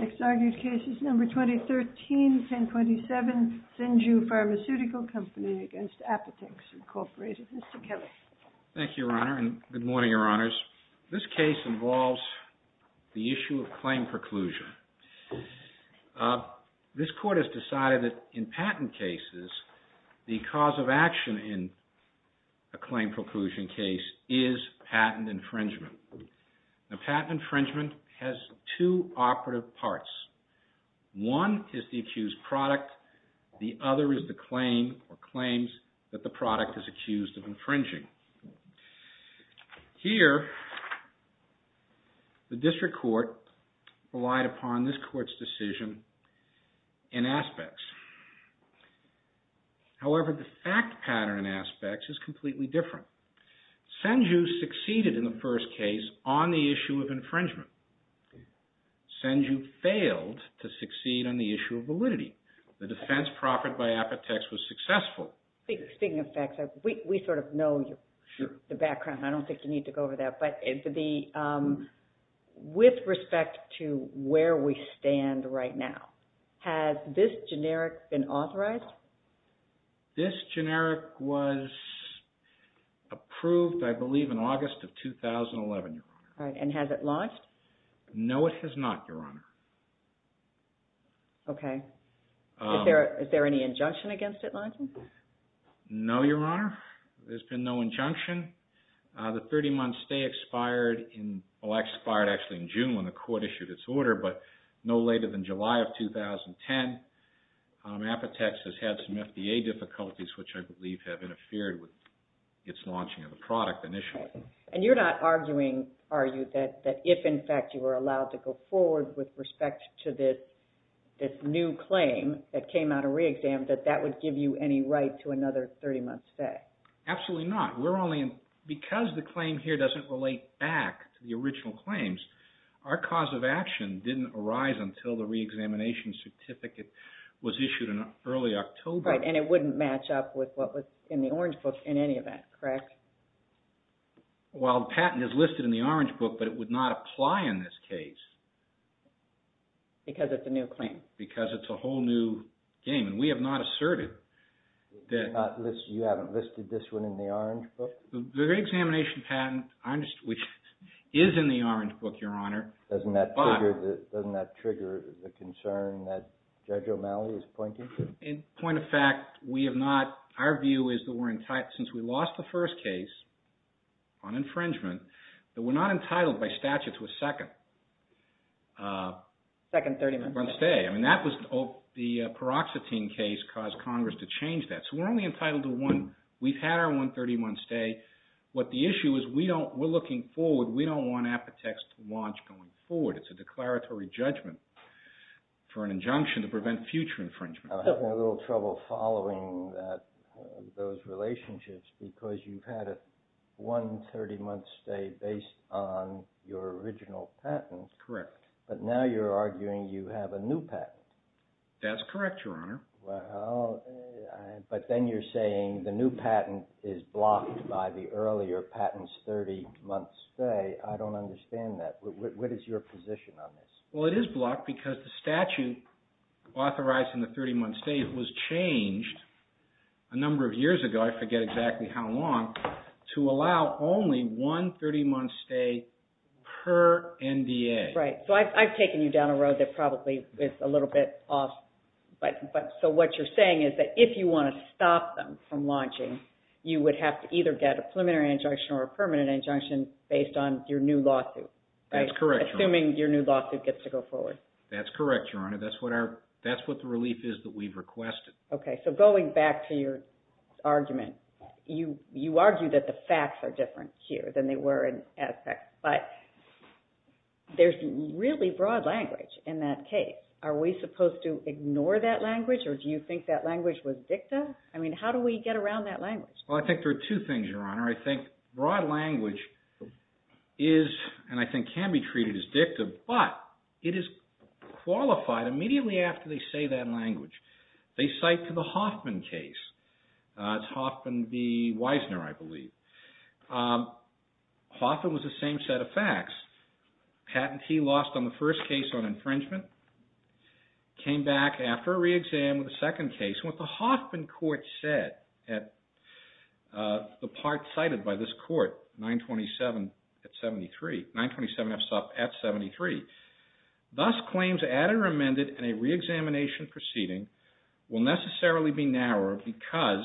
Mr. Kelly. Thank you, Your Honor, and good morning, Your Honors. This case involves the issue of claim preclusion. This Court has decided that in patent cases, the cause of action in a claim preclusion case is patent infringement. Now patent infringement has two operative parts. One is the accused product. The other is the claim or claims that the product is accused of infringing. Here, the District Court relied upon this Court's decision in aspects. However, the fact pattern in aspects is completely different. SENJU succeeded in the first case on the issue of infringement. SENJU failed to succeed on the issue of validity. The defense proffered by APOTEX was successful. Speaking of facts, we sort of know the background. I don't think you need to go over that. But with respect to where we stand right now, has this generic been authorized? This generic was approved, I believe, in August of 2011, Your Honor. And has it lodged? No, it has not, Your Honor. Okay. Is there any injunction against it lodging? No, Your Honor. There's been no injunction. The 30-month stay expired in June when the Court issued its order. But no later than July of 2010, APOTEX has had some FDA difficulties, which I believe have interfered with its launching of the product initially. And you're not arguing, are you, that if, in fact, you were allowed to go forward with respect to this new claim that came out of re-exam, that that would give you any right to another 30-month stay? Absolutely not. Because the claim here doesn't relate back to the original claims, our cause of action didn't arise until the re-examination certificate was issued in early October. And it wouldn't match up with what was in the Orange Book in any event, correct? Well, the patent is listed in the Orange Book, but it would not apply in this case. Because it's a new claim? Because it's a whole new game. And we have not asserted that... You haven't listed this one in the Orange Book? The re-examination patent, which is in the Orange Book, Your Honor... Doesn't that trigger the concern that Judge O'Malley is pointing to? In point of fact, we have not... Our view is that we're entitled... Since we lost the first case on infringement, that we're not entitled by statute to a second... Second 30-month stay. I mean, that was... The paroxetine case caused Congress to change that. So we're only entitled to one. We've had our one 30-month stay. What the issue is, we're looking forward. We don't want Apotex to launch going forward. It's a declaratory judgment for an injunction to prevent future infringement. I'm having a little trouble following those relationships. Because you've had a one 30-month stay based on your original patent. Correct. But now you're arguing you have a new patent. That's correct, Your Honor. But then you're saying the new patent is blocked by the earlier patent's 30-month stay. I don't understand that. What is your position on this? Well, it is blocked because the statute authorizing the 30-month stay was changed a number of years ago. I forget exactly how long, to allow only one 30-month stay per NDA. Right. So I've taken you down a road that probably is a little bit off. So what you're saying is that if you want to stop them from launching, you would have to either get a preliminary injunction or a permanent injunction based on your new lawsuit. That's correct, Your Honor. Assuming your new lawsuit gets to go forward. That's correct, Your Honor. That's what the relief is that we've requested. Okay. So going back to your argument, you argue that the facts are different here than they were in Aspect. But there's really broad language in that case. Are we supposed to ignore that language, or do you think that language was dicta? I mean, how do we get around that language? Well, I think there are two things, Your Honor. I think broad language is, and I think can be treated as dicta, but it is qualified immediately after they say that language. They cite to the Hoffman case. It's Hoffman v. Wiesner, I believe. Hoffman was the same set of facts. Patentee lost on the first case on infringement. Came back after a re-exam with the second case. What the Hoffman court said at the part cited by this court, 927 at 73. 927 at 73. Thus, claims added or amended in a re-examination proceeding will necessarily be narrower because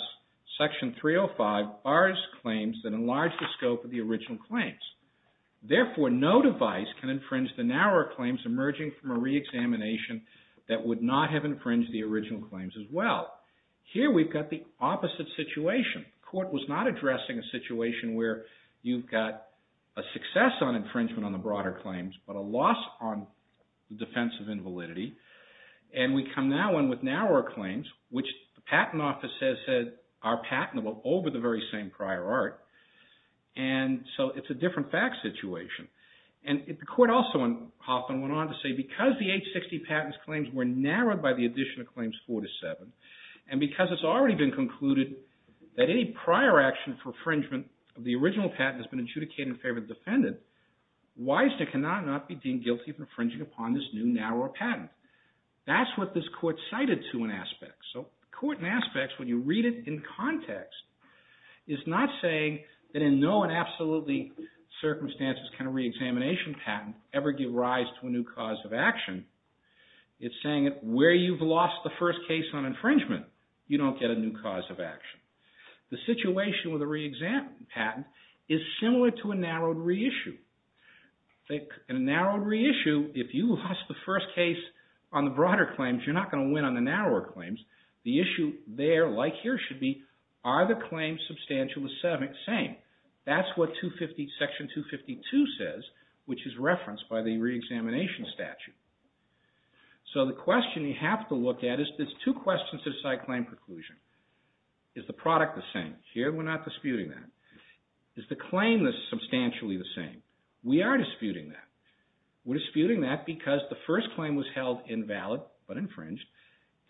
Section 305 bars claims that enlarge the scope of the original claims. Therefore, no device can infringe the narrower claims emerging from a re-examination that would not have infringed the original claims as well. Here, we've got the opposite situation. The court was not addressing a situation where you've got a success on infringement on the broader claims, but a loss on the defense of invalidity. And we come now in with narrower claims, which the patent office says are patentable over the very same prior art. And so it's a different fact situation. And the court also in Hoffman went on to say, because the 860 patents claims were narrowed by the addition of claims 4 to 7, and because it's already been concluded that any prior action for infringement of the original patent has been adjudicated in favor of the defendant, Wisner cannot not be deemed guilty of infringing upon this new narrower patent. That's what this court cited to in aspects. So the court in aspects, when you read it in context, is not saying that in no and absolutely circumstances can a re-examination patent ever give rise to a new cause of action. It's saying that where you've lost the first case on infringement, you don't get a new cause of action. The situation with a re-examination patent is similar to a narrowed reissue. In a narrowed reissue, if you lost the first case on the broader claims, you're not going to win on the narrower claims. The issue there, like here should be, are the claims substantial the same? That's what Section 252 says, which is referenced by the re-examination statute. So the question you have to look at is there's two questions to decide claim preclusion. Is the product the same? Here we're not disputing that. Is the claim substantially the same? We are disputing that. We're disputing that because the first claim was held invalid but infringed,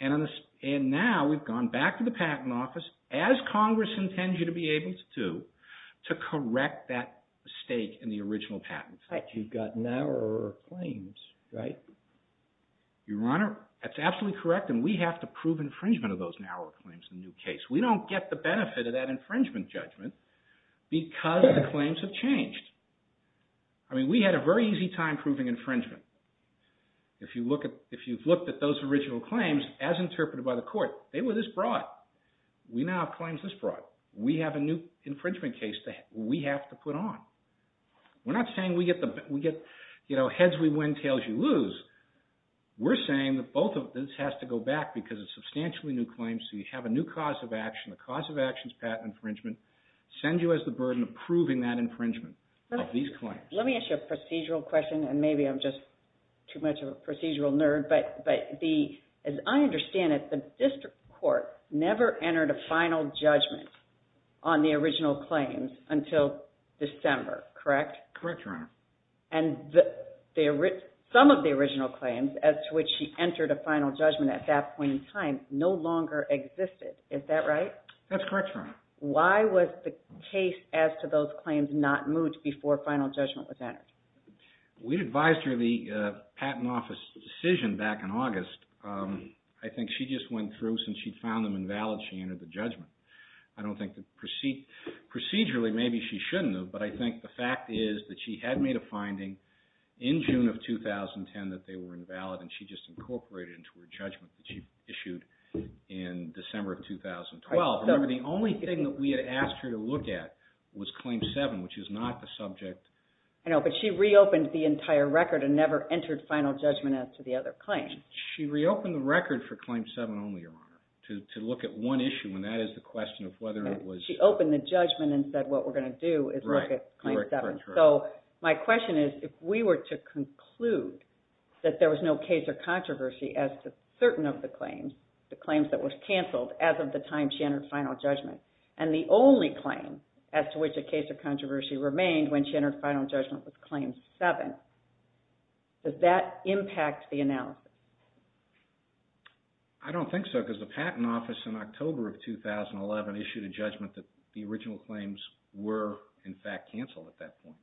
and now we've gone back to the Patent Office, as Congress intends you to be able to do, to correct that mistake in the original patent. You've got narrower claims, right? Your Honor, that's absolutely correct, and we have to prove infringement of those narrower claims in the new case. We don't get the benefit of that infringement judgment because the claims have changed. I mean we had a very easy time proving infringement. If you've looked at those original claims as interpreted by the Court, they were this broad. We now have claims this broad. We have a new infringement case that we have to put on. We're not saying we get heads we win, tails we lose. We're saying that both of this has to go back because it's substantially new claims, so you have a new cause of action. The cause of action is patent infringement. It sends you as the burden of proving that infringement of these claims. Let me ask you a procedural question, and maybe I'm just too much of a procedural nerd. But as I understand it, the district court never entered a final judgment on the original claims until December, correct? Correct, Your Honor. And some of the original claims as to which she entered a final judgment at that point in time no longer existed. Is that right? That's correct, Your Honor. Why was the case as to those claims not moved before a final judgment was entered? We advised her the patent office decision back in August. I think she just went through since she found them invalid, she entered the judgment. I don't think that procedurally maybe she shouldn't have, but I think the fact is that she had made a finding in June of 2010 that they were invalid, and she just incorporated into her judgment that she issued in December of 2012. Remember, the only thing that we had asked her to look at was Claim 7, which is not the subject. I know, but she reopened the entire record and never entered final judgment as to the other claims. She reopened the record for Claim 7 only, Your Honor, to look at one issue, and that is the question of whether it was… She opened the judgment and said what we're going to do is look at Claim 7. So my question is if we were to conclude that there was no case or controversy as to certain of the claims, the claims that were canceled as of the time she entered final judgment, and the only claim as to which a case or controversy remained when she entered final judgment was Claim 7, does that impact the analysis? I don't think so, because the Patent Office in October of 2011 issued a judgment that the original claims were, in fact, canceled at that point.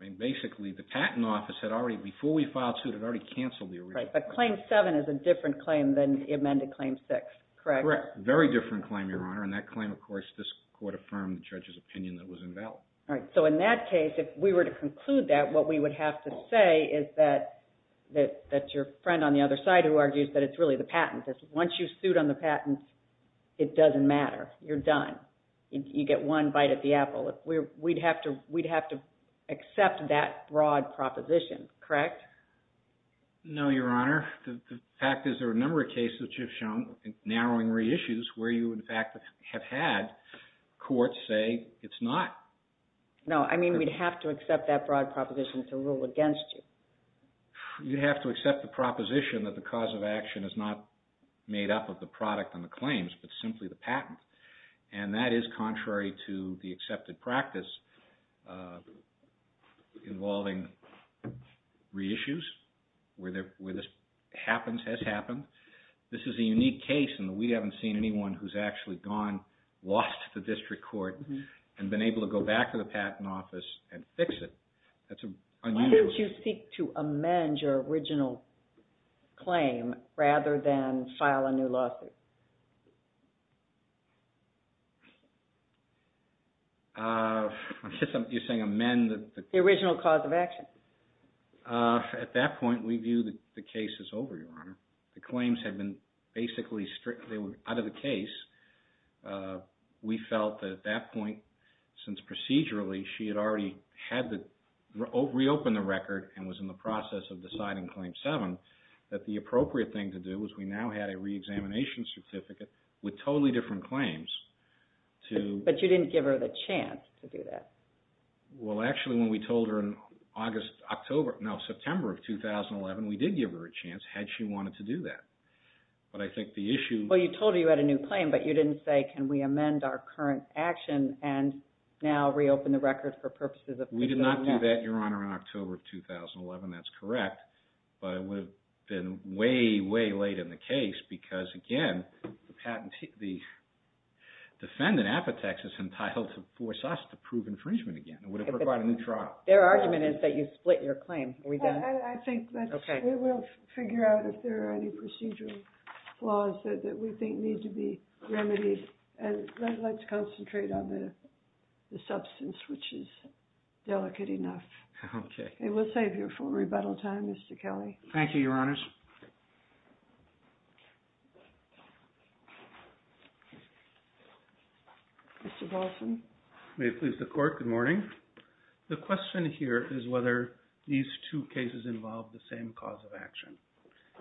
I mean, basically, the Patent Office had already, before we filed suit, had already canceled the original… Right, but Claim 7 is a different claim than the amended Claim 6, correct? Correct. Very different claim, Your Honor, and that claim, of course, this court affirmed the judge's opinion that it was invalid. All right, so in that case, if we were to conclude that, what we would have to say is that your friend on the other side, who argues that it's really the patent, that once you suit on the patent, it doesn't matter. You're done. You get one bite at the apple. We'd have to accept that broad proposition, correct? No, Your Honor. Your Honor, the fact is there are a number of cases, which you've shown, narrowing reissues, where you, in fact, have had courts say it's not. No, I mean, we'd have to accept that broad proposition to rule against you. You'd have to accept the proposition that the cause of action is not made up of the product and the claims, but simply the patent. And that is contrary to the accepted practice involving reissues, where this happens, has happened. This is a unique case in that we haven't seen anyone who's actually gone, lost the district court, and been able to go back to the patent office and fix it. Why don't you seek to amend your original claim rather than file a new lawsuit? I guess you're saying amend the… The original cause of action. At that point, we viewed the case as over, Your Honor. The claims had been basically out of the case. We felt that at that point, since procedurally she had already had to reopen the record and was in the process of deciding Claim 7, that the appropriate thing to do was we now had a reexamination certificate with totally different claims. But you didn't give her the chance to do that. Well, actually, when we told her in August, October, no, September of 2011, we did give her a chance had she wanted to do that. But I think the issue… Well, you told her you had a new claim, but you didn't say, can we amend our current action and now reopen the record for purposes of… We did not do that, Your Honor, in October of 2011. That's correct. But it would have been way, way late in the case because, again, the defendant, Apotex, is entitled to force us to prove infringement again. It would have required a new trial. Their argument is that you split your claim. Are we done? I think we'll figure out if there are any procedural flaws that we think need to be remedied. And let's concentrate on the substance, which is delicate enough. Okay. We'll save you full rebuttal time, Mr. Kelly. Thank you, Your Honors. Mr. Paulson. May it please the Court. Good morning. The question here is whether these two cases involve the same cause of action.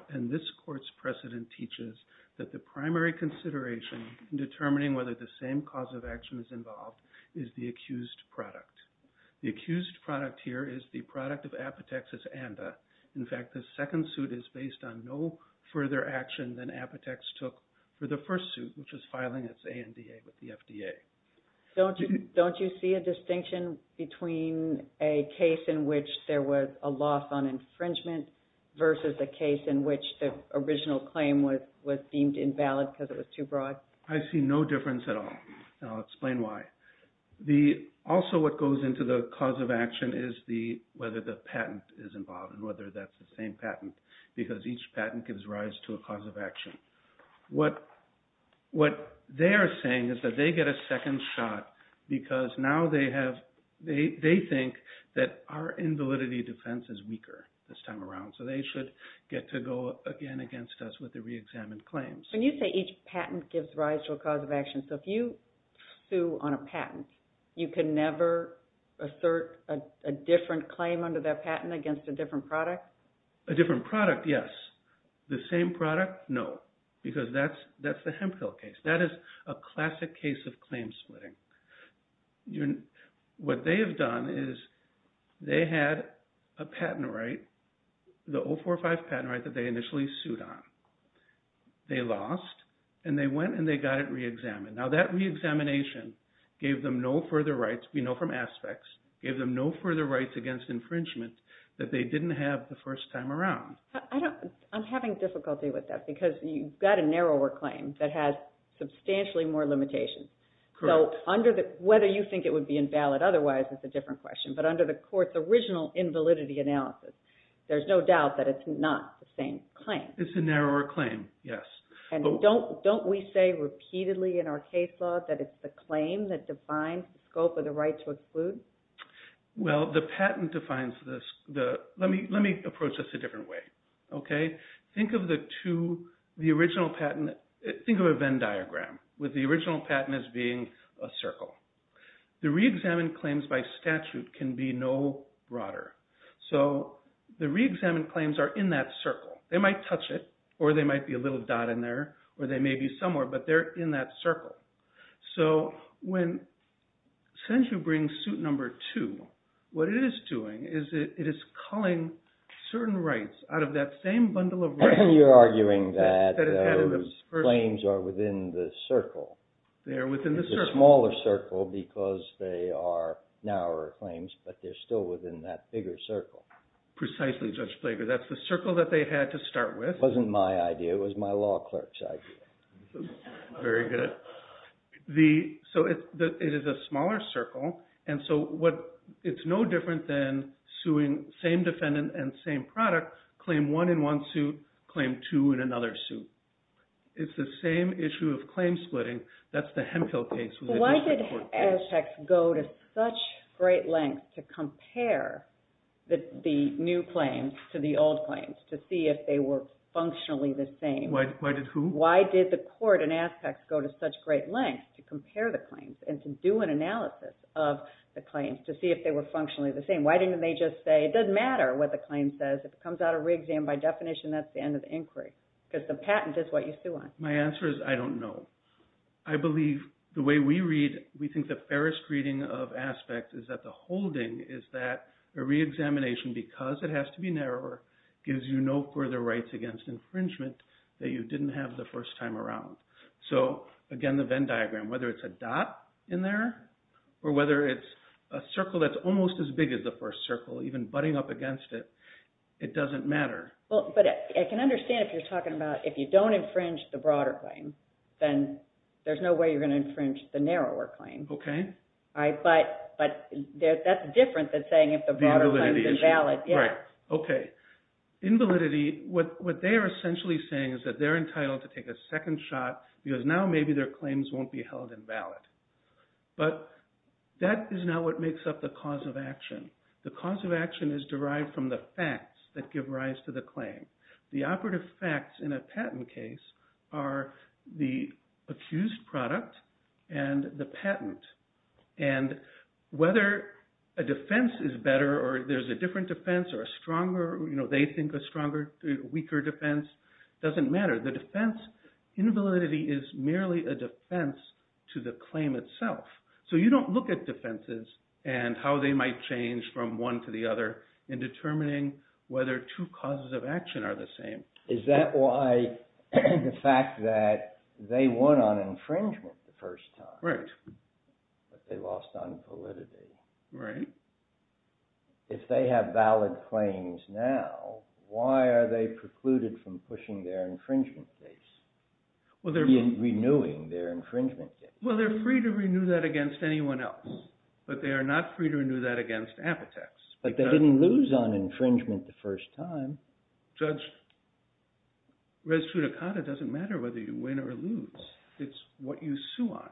And this Court's precedent teaches that the primary consideration in determining whether the same cause of action is involved is the accused product. The accused product here is the product of Apotex's ANDA. In fact, the second suit is based on no further action than Apotex took for the first suit, which is filing its ANDA with the FDA. Don't you see a distinction between a case in which there was a loss on infringement versus a case in which the original claim was deemed invalid because it was too broad? I see no difference at all, and I'll explain why. Also, what goes into the cause of action is whether the patent is involved and whether that's the same patent because each patent gives rise to a cause of action. What they are saying is that they get a second shot because now they think that our invalidity defense is weaker this time around, so they should get to go again against us with the reexamined claims. When you say each patent gives rise to a cause of action, so if you sue on a patent, you can never assert a different claim under that patent against a different product? A different product, yes. The same product, no, because that's the Hemphill case. That is a classic case of claim splitting. What they have done is they had a patent right, the 045 patent right that they initially sued on. They lost, and they went and they got it reexamined. Now, that reexamination gave them no further rights, we know from aspects, gave them no further rights against infringement that they didn't have the first time around. I'm having difficulty with that because you've got a narrower claim that has substantially more limitations. Correct. Whether you think it would be invalid otherwise is a different question, but under the court's original invalidity analysis, there's no doubt that it's not the same claim. It's a narrower claim, yes. Don't we say repeatedly in our case law that it's the claim that defines the scope of the right to exclude? Well, the patent defines this. Let me approach this a different way. Think of a Venn diagram with the original patent as being a circle. The reexamined claims by statute can be no broader. So the reexamined claims are in that circle. They might touch it, or they might be a little dot in there, or they may be somewhere, but they're in that circle. So when statute brings suit number two, what it is doing is it is culling certain rights out of that same bundle of rights. You're arguing that those claims are within the circle. They are within the circle. It's a smaller circle because they are narrower claims, but they're still within that bigger circle. Precisely, Judge Flaker. That's the circle that they had to start with. It wasn't my idea. It was my law clerk's idea. Very good. So it is a smaller circle, and so it's no different than suing same defendant and same product, claim one in one suit, claim two in another suit. It's the same issue of claim splitting. That's the Hemphill case. Why did Aztecs go to such great lengths to compare the new claims to the old claims to see if they were functionally the same? Why did who? Why did the court in Aztecs go to such great lengths to compare the claims and to do an analysis of the claims to see if they were functionally the same? Why didn't they just say it doesn't matter what the claim says? If it comes out of re-exam by definition, that's the end of the inquiry because the patent is what you sue on. My answer is I don't know. I believe the way we read, we think the fairest reading of Aztecs is that the holding is that a re-examination, because it has to be narrower, gives you no further rights against infringement that you didn't have the first time around. Again, the Venn diagram, whether it's a dot in there or whether it's a circle that's almost as big as the first circle, even butting up against it, it doesn't matter. But I can understand if you're talking about if you don't infringe the broader claim, then there's no way you're going to infringe the narrower claim. Okay. But that's different than saying if the broader claim is invalid. Invalidity, what they are essentially saying is that they're entitled to take a second shot because now maybe their claims won't be held invalid. But that is not what makes up the cause of action. The cause of action is derived from the facts that give rise to the claim. The operative facts in a patent case are the accused product and the patent. And whether a defense is better or there's a different defense or a stronger – they think a stronger, weaker defense doesn't matter. The defense – invalidity is merely a defense to the claim itself. So you don't look at defenses and how they might change from one to the other in determining whether two causes of action are the same. Is that why the fact that they won on infringement the first time? Right. But they lost on validity. Right. If they have valid claims now, why are they precluded from pushing their infringement case? Well, they're – Renewing their infringement case. Well, they're free to renew that against anyone else. But they are not free to renew that against Apotex. But they didn't lose on infringement the first time. Judge, res judicata doesn't matter whether you win or lose. It's what you sue on.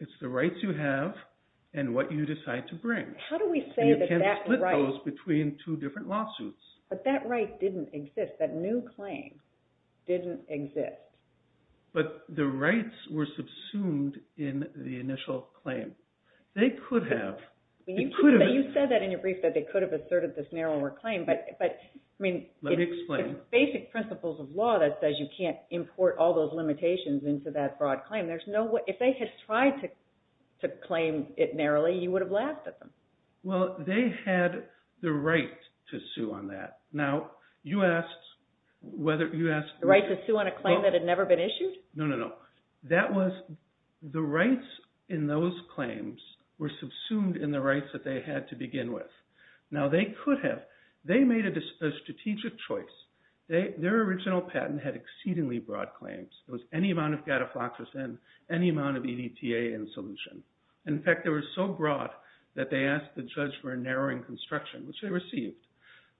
It's the rights you have and what you decide to bring. How do we say that that right – And you can't split those between two different lawsuits. But that right didn't exist. That new claim didn't exist. But the rights were subsumed in the initial claim. They could have – You said that in your brief that they could have asserted this narrower claim, but – Let me explain. There are basic principles of law that says you can't import all those limitations into that broad claim. If they had tried to claim it narrowly, you would have laughed at them. Well, they had the right to sue on that. Now, you asked whether – The right to sue on a claim that had never been issued? No, no, no. That was – the rights in those claims were subsumed in the rights that they had to begin with. Now, they could have. They made a strategic choice. Their original patent had exceedingly broad claims. It was any amount of gadaflaxus in, any amount of EDTA in solution. In fact, they were so broad that they asked the judge for a narrowing construction, which they received.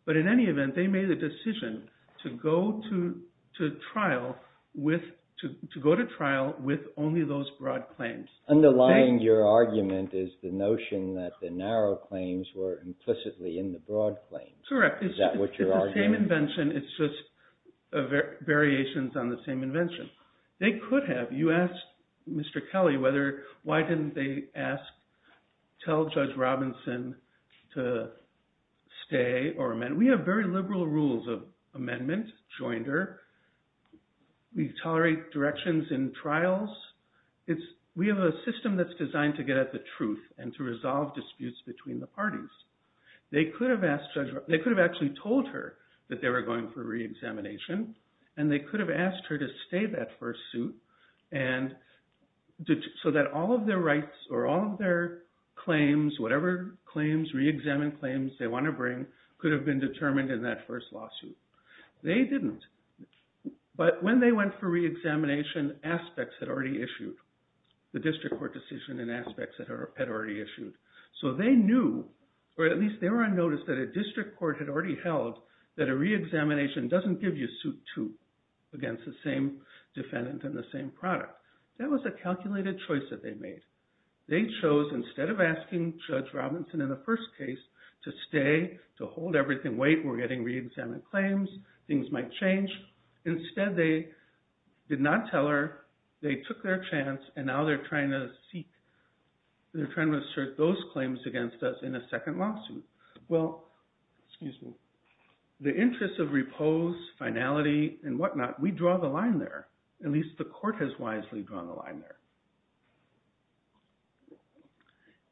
But in any event, they made a decision to go to trial with only those broad claims. Underlying your argument is the notion that the narrow claims were implicitly in the broad claims. Correct. Is that what you're arguing? It's the same invention. It's just variations on the same invention. They could have. You asked Mr. Kelly whether – why didn't they ask – tell Judge Robinson to stay or amend. We have very liberal rules of amendment, joinder. We tolerate directions in trials. We have a system that's designed to get at the truth and to resolve disputes between the parties. They could have asked Judge – they could have actually told her that they were going for reexamination, and they could have asked her to stay that first suit so that all of their rights or all of their claims, whatever claims, reexamined claims they want to bring, could have been determined in that first lawsuit. They didn't. But when they went for reexamination, aspects had already issued, the district court decision and aspects had already issued. So they knew, or at least they were on notice that a district court had already held that a reexamination doesn't give you suit two against the same defendant and the same product. That was a calculated choice that they made. They chose, instead of asking Judge Robinson in the first case to stay, to hold everything, saying, wait, we're getting reexamined claims, things might change. Instead, they did not tell her. They took their chance, and now they're trying to assert those claims against us in a second lawsuit. Well, the interest of repose, finality, and whatnot, we draw the line there. At least the court has wisely drawn the line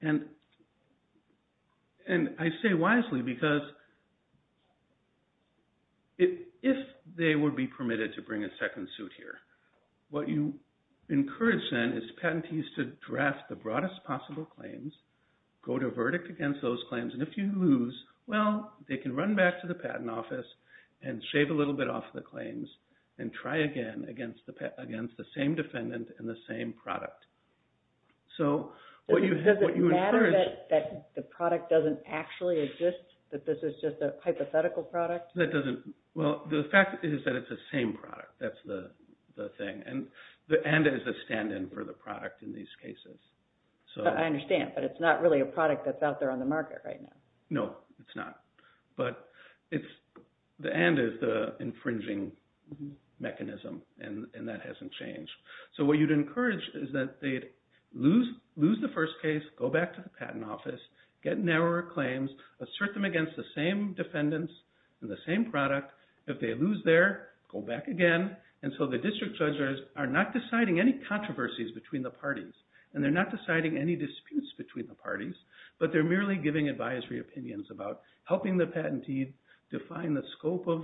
there. And I say wisely because if they would be permitted to bring a second suit here, what you encourage then is patentees to draft the broadest possible claims, go to verdict against those claims, and if you lose, well, they can run back to the patent office and shave a little bit off the claims and try again against the same defendant and the same product. Does it matter that the product doesn't actually exist, that this is just a hypothetical product? Well, the fact is that it's the same product. That's the thing, and it's a stand-in for the product in these cases. I understand, but it's not really a product that's out there on the market right now. No, it's not, but the and is the infringing mechanism, and that hasn't changed. So what you'd encourage is that they'd lose the first case, go back to the patent office, get narrower claims, assert them against the same defendants and the same product. If they lose there, go back again until the district judges are not deciding any controversies between the parties, and they're not helping the patentee define the scope of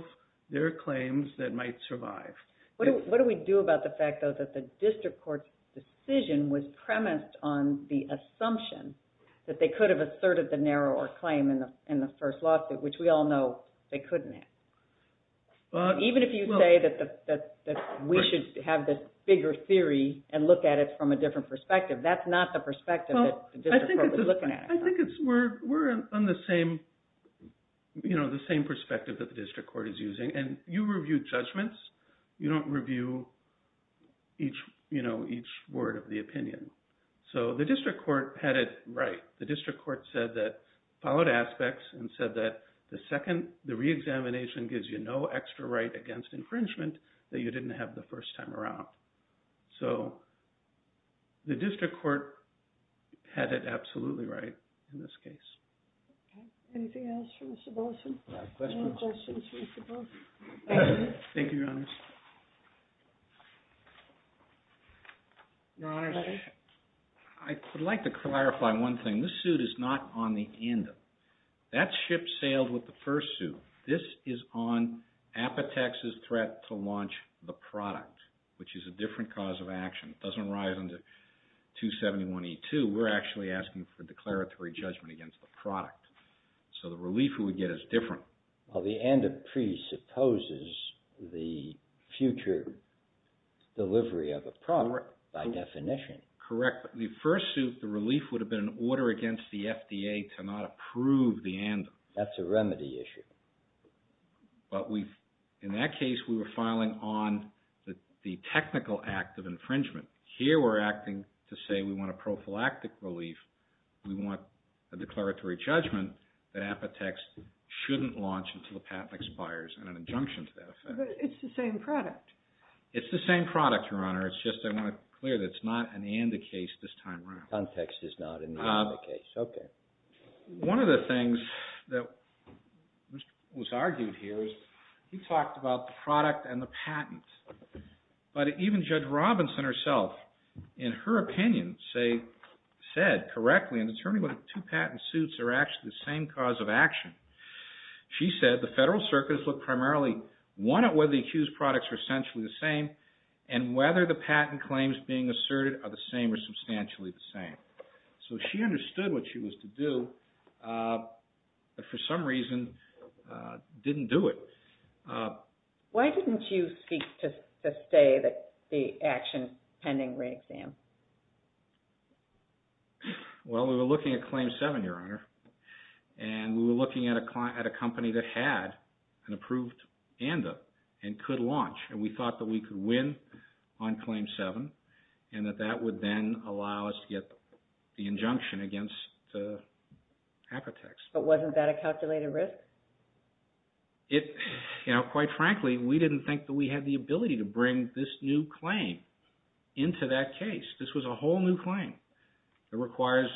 their claims that might survive. What do we do about the fact, though, that the district court's decision was premised on the assumption that they could have asserted the narrower claim in the first lawsuit, which we all know they couldn't have? Even if you say that we should have this bigger theory and look at it from a different perspective, that's not the perspective that the district court was looking at. I think we're on the same perspective that the district court is using, and you review judgments. You don't review each word of the opinion. So the district court had it right. The district court said that, followed aspects and said that the second, the reexamination gives you no extra right against infringement that you didn't have the first time around. So the district court had it absolutely right in this case. Anything else for Mr. Bolson? No questions. No questions for Mr. Bolson. Thank you, Your Honors. Your Honors, I would like to clarify one thing. This suit is not on the end. That ship sailed with the first suit. This is on Apotex's threat to launch the product, which is a different cause of action. It doesn't rise under 271E2. We're actually asking for declaratory judgment against the product. So the relief we would get is different. Well, the ANDA presupposes the future delivery of a product by definition. Correct. The first suit, the relief would have been an order against the FDA to not approve the ANDA. That's a remedy issue. But in that case, we were filing on the technical act of infringement. Here we're acting to say we want a prophylactic relief. We want a declaratory judgment that Apotex shouldn't launch until the patent expires and an injunction to that effect. But it's the same product. It's the same product, Your Honor. It's just I want to clear that it's not an ANDA case this time around. Context is not an ANDA case. Okay. One of the things that was argued here is he talked about the product and the patent. But even Judge Robinson herself, in her opinion, said correctly in determining whether the two patent suits are actually the same cause of action. She said the federal circuits look primarily, one, at whether the accused products are essentially the same, and whether the patent claims being asserted are the same or substantially the same. So she understood what she was to do, but for some reason didn't do it. Why didn't you speak to say that the action is pending re-exam? Well, we were looking at Claim 7, Your Honor. And we were looking at a company that had an approved ANDA and could launch. And we thought that we could win on Claim 7. And that that would then allow us to get the injunction against Apotex. But wasn't that a calculated risk? You know, quite frankly, we didn't think that we had the ability to bring this new claim into that case. This was a whole new claim. It requires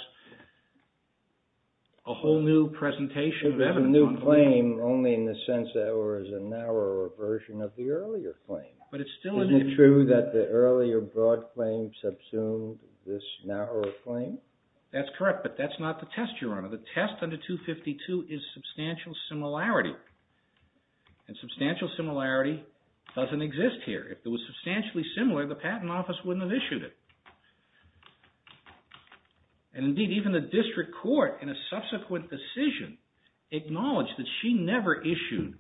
a whole new presentation of evidence. It was a new claim only in the sense that it was a narrower version of the earlier claim. But it still is. Isn't it true that the earlier broad claim subsumed this narrower claim? That's correct, but that's not the test, Your Honor. The test under 252 is substantial similarity. And substantial similarity doesn't exist here. If it was substantially similar, the Patent Office wouldn't have issued it. And indeed, even the District Court, in a subsequent decision, acknowledged that she never issued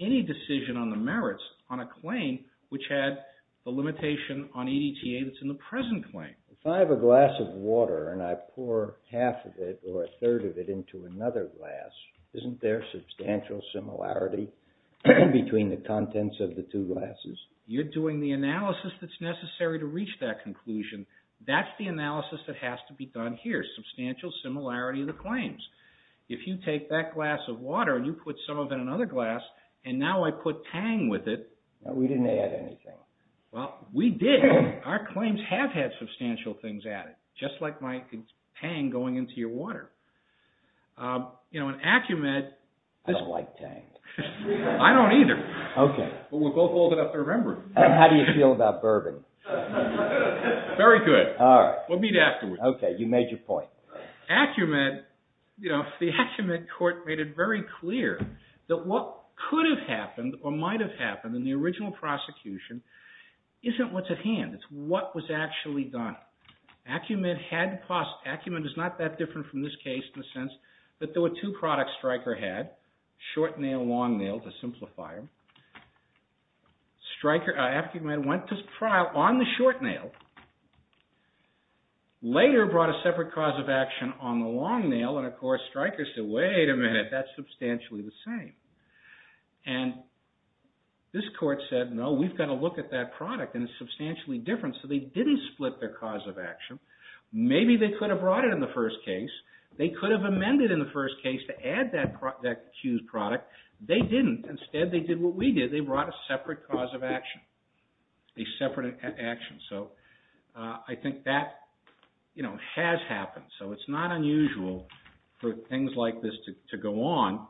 any decision on the merits on a claim which had the limitation on EDTA that's in the present claim. If I have a glass of water and I pour half of it or a third of it into another glass, isn't there substantial similarity between the contents of the two glasses? You're doing the analysis that's necessary to reach that conclusion. That's the analysis that has to be done here. Substantial similarity of the claims. If you take that glass of water and you put some of it in another glass, and now I put Tang with it... No, we didn't add anything. Well, we did. Our claims have had substantial things added, just like my Tang going into your water. You know, in Acumet... I don't like Tang. I don't either. Okay. But we're both old enough to remember. How do you feel about bourbon? Very good. All right. We'll meet afterwards. Okay. You made your point. Acumet, you know, the Acumet court made it very clear that what could have happened or might have happened in the original prosecution isn't what's at hand. It's what was actually done. Acumet had... Acumet is not that different from this case in the sense that there were two products Stryker had, short nail, long nail, to simplify. Stryker... Acumet went to trial on the short nail, later brought a separate cause of action on the long nail, and of course Stryker said, wait a minute, that's substantially the same. And this court said, no, we've got to look at that product, and it's substantially different. So they didn't split their cause of action. Maybe they could have brought it in the first case. They could have amended in the first case to add that accused product. They didn't. Instead, they did what we did. They brought a separate cause of action, a separate action. So I think that, you know, has happened. So it's not unusual for things like this to go on.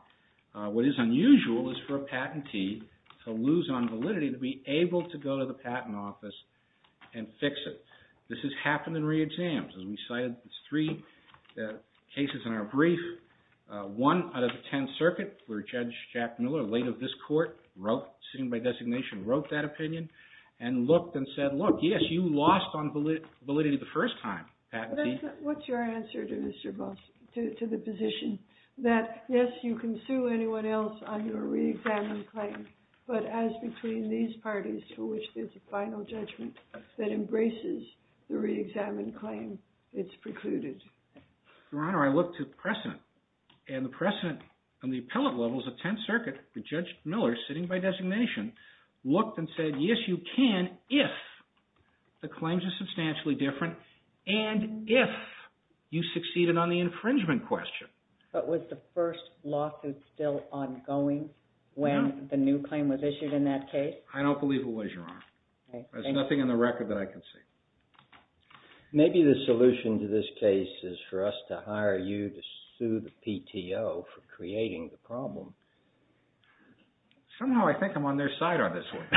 What is unusual is for a patentee to lose on validity to be able to go to the patent office and fix it. This has happened in re-exams. As we cited, there's three cases in our brief. One out of the Tenth Circuit, where Judge Jack Miller, late of this court, wrote, sitting by designation, wrote that opinion, and looked and said, look, yes, you lost on validity the first time, patentee. What's your answer to the position that, yes, you can sue anyone else on your re-examined claim, but as between these parties, for which there's a final judgment that embraces the re-examined claim, it's precluded? Your Honor, I looked at precedent, and the precedent on the appellate levels of Tenth Circuit, Judge Miller, sitting by designation, looked and said, yes, you can if the claims are substantially different, and if you succeeded on the infringement question. But was the first lawsuit still ongoing when the new claim was issued in that case? I don't believe it was, Your Honor. There's nothing in the record that I can see. Maybe the solution to this case is for us to hire you to sue the PTO for creating the problem. Somehow I think I'm on their side on this one.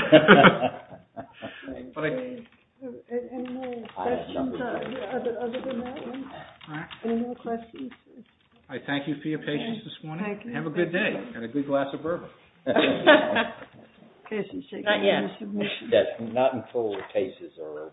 Any more questions other than that one? Any more questions? I thank you for your patience this morning, and have a good day, and a good glass of bourbon. Not yet. Not until the cases are over.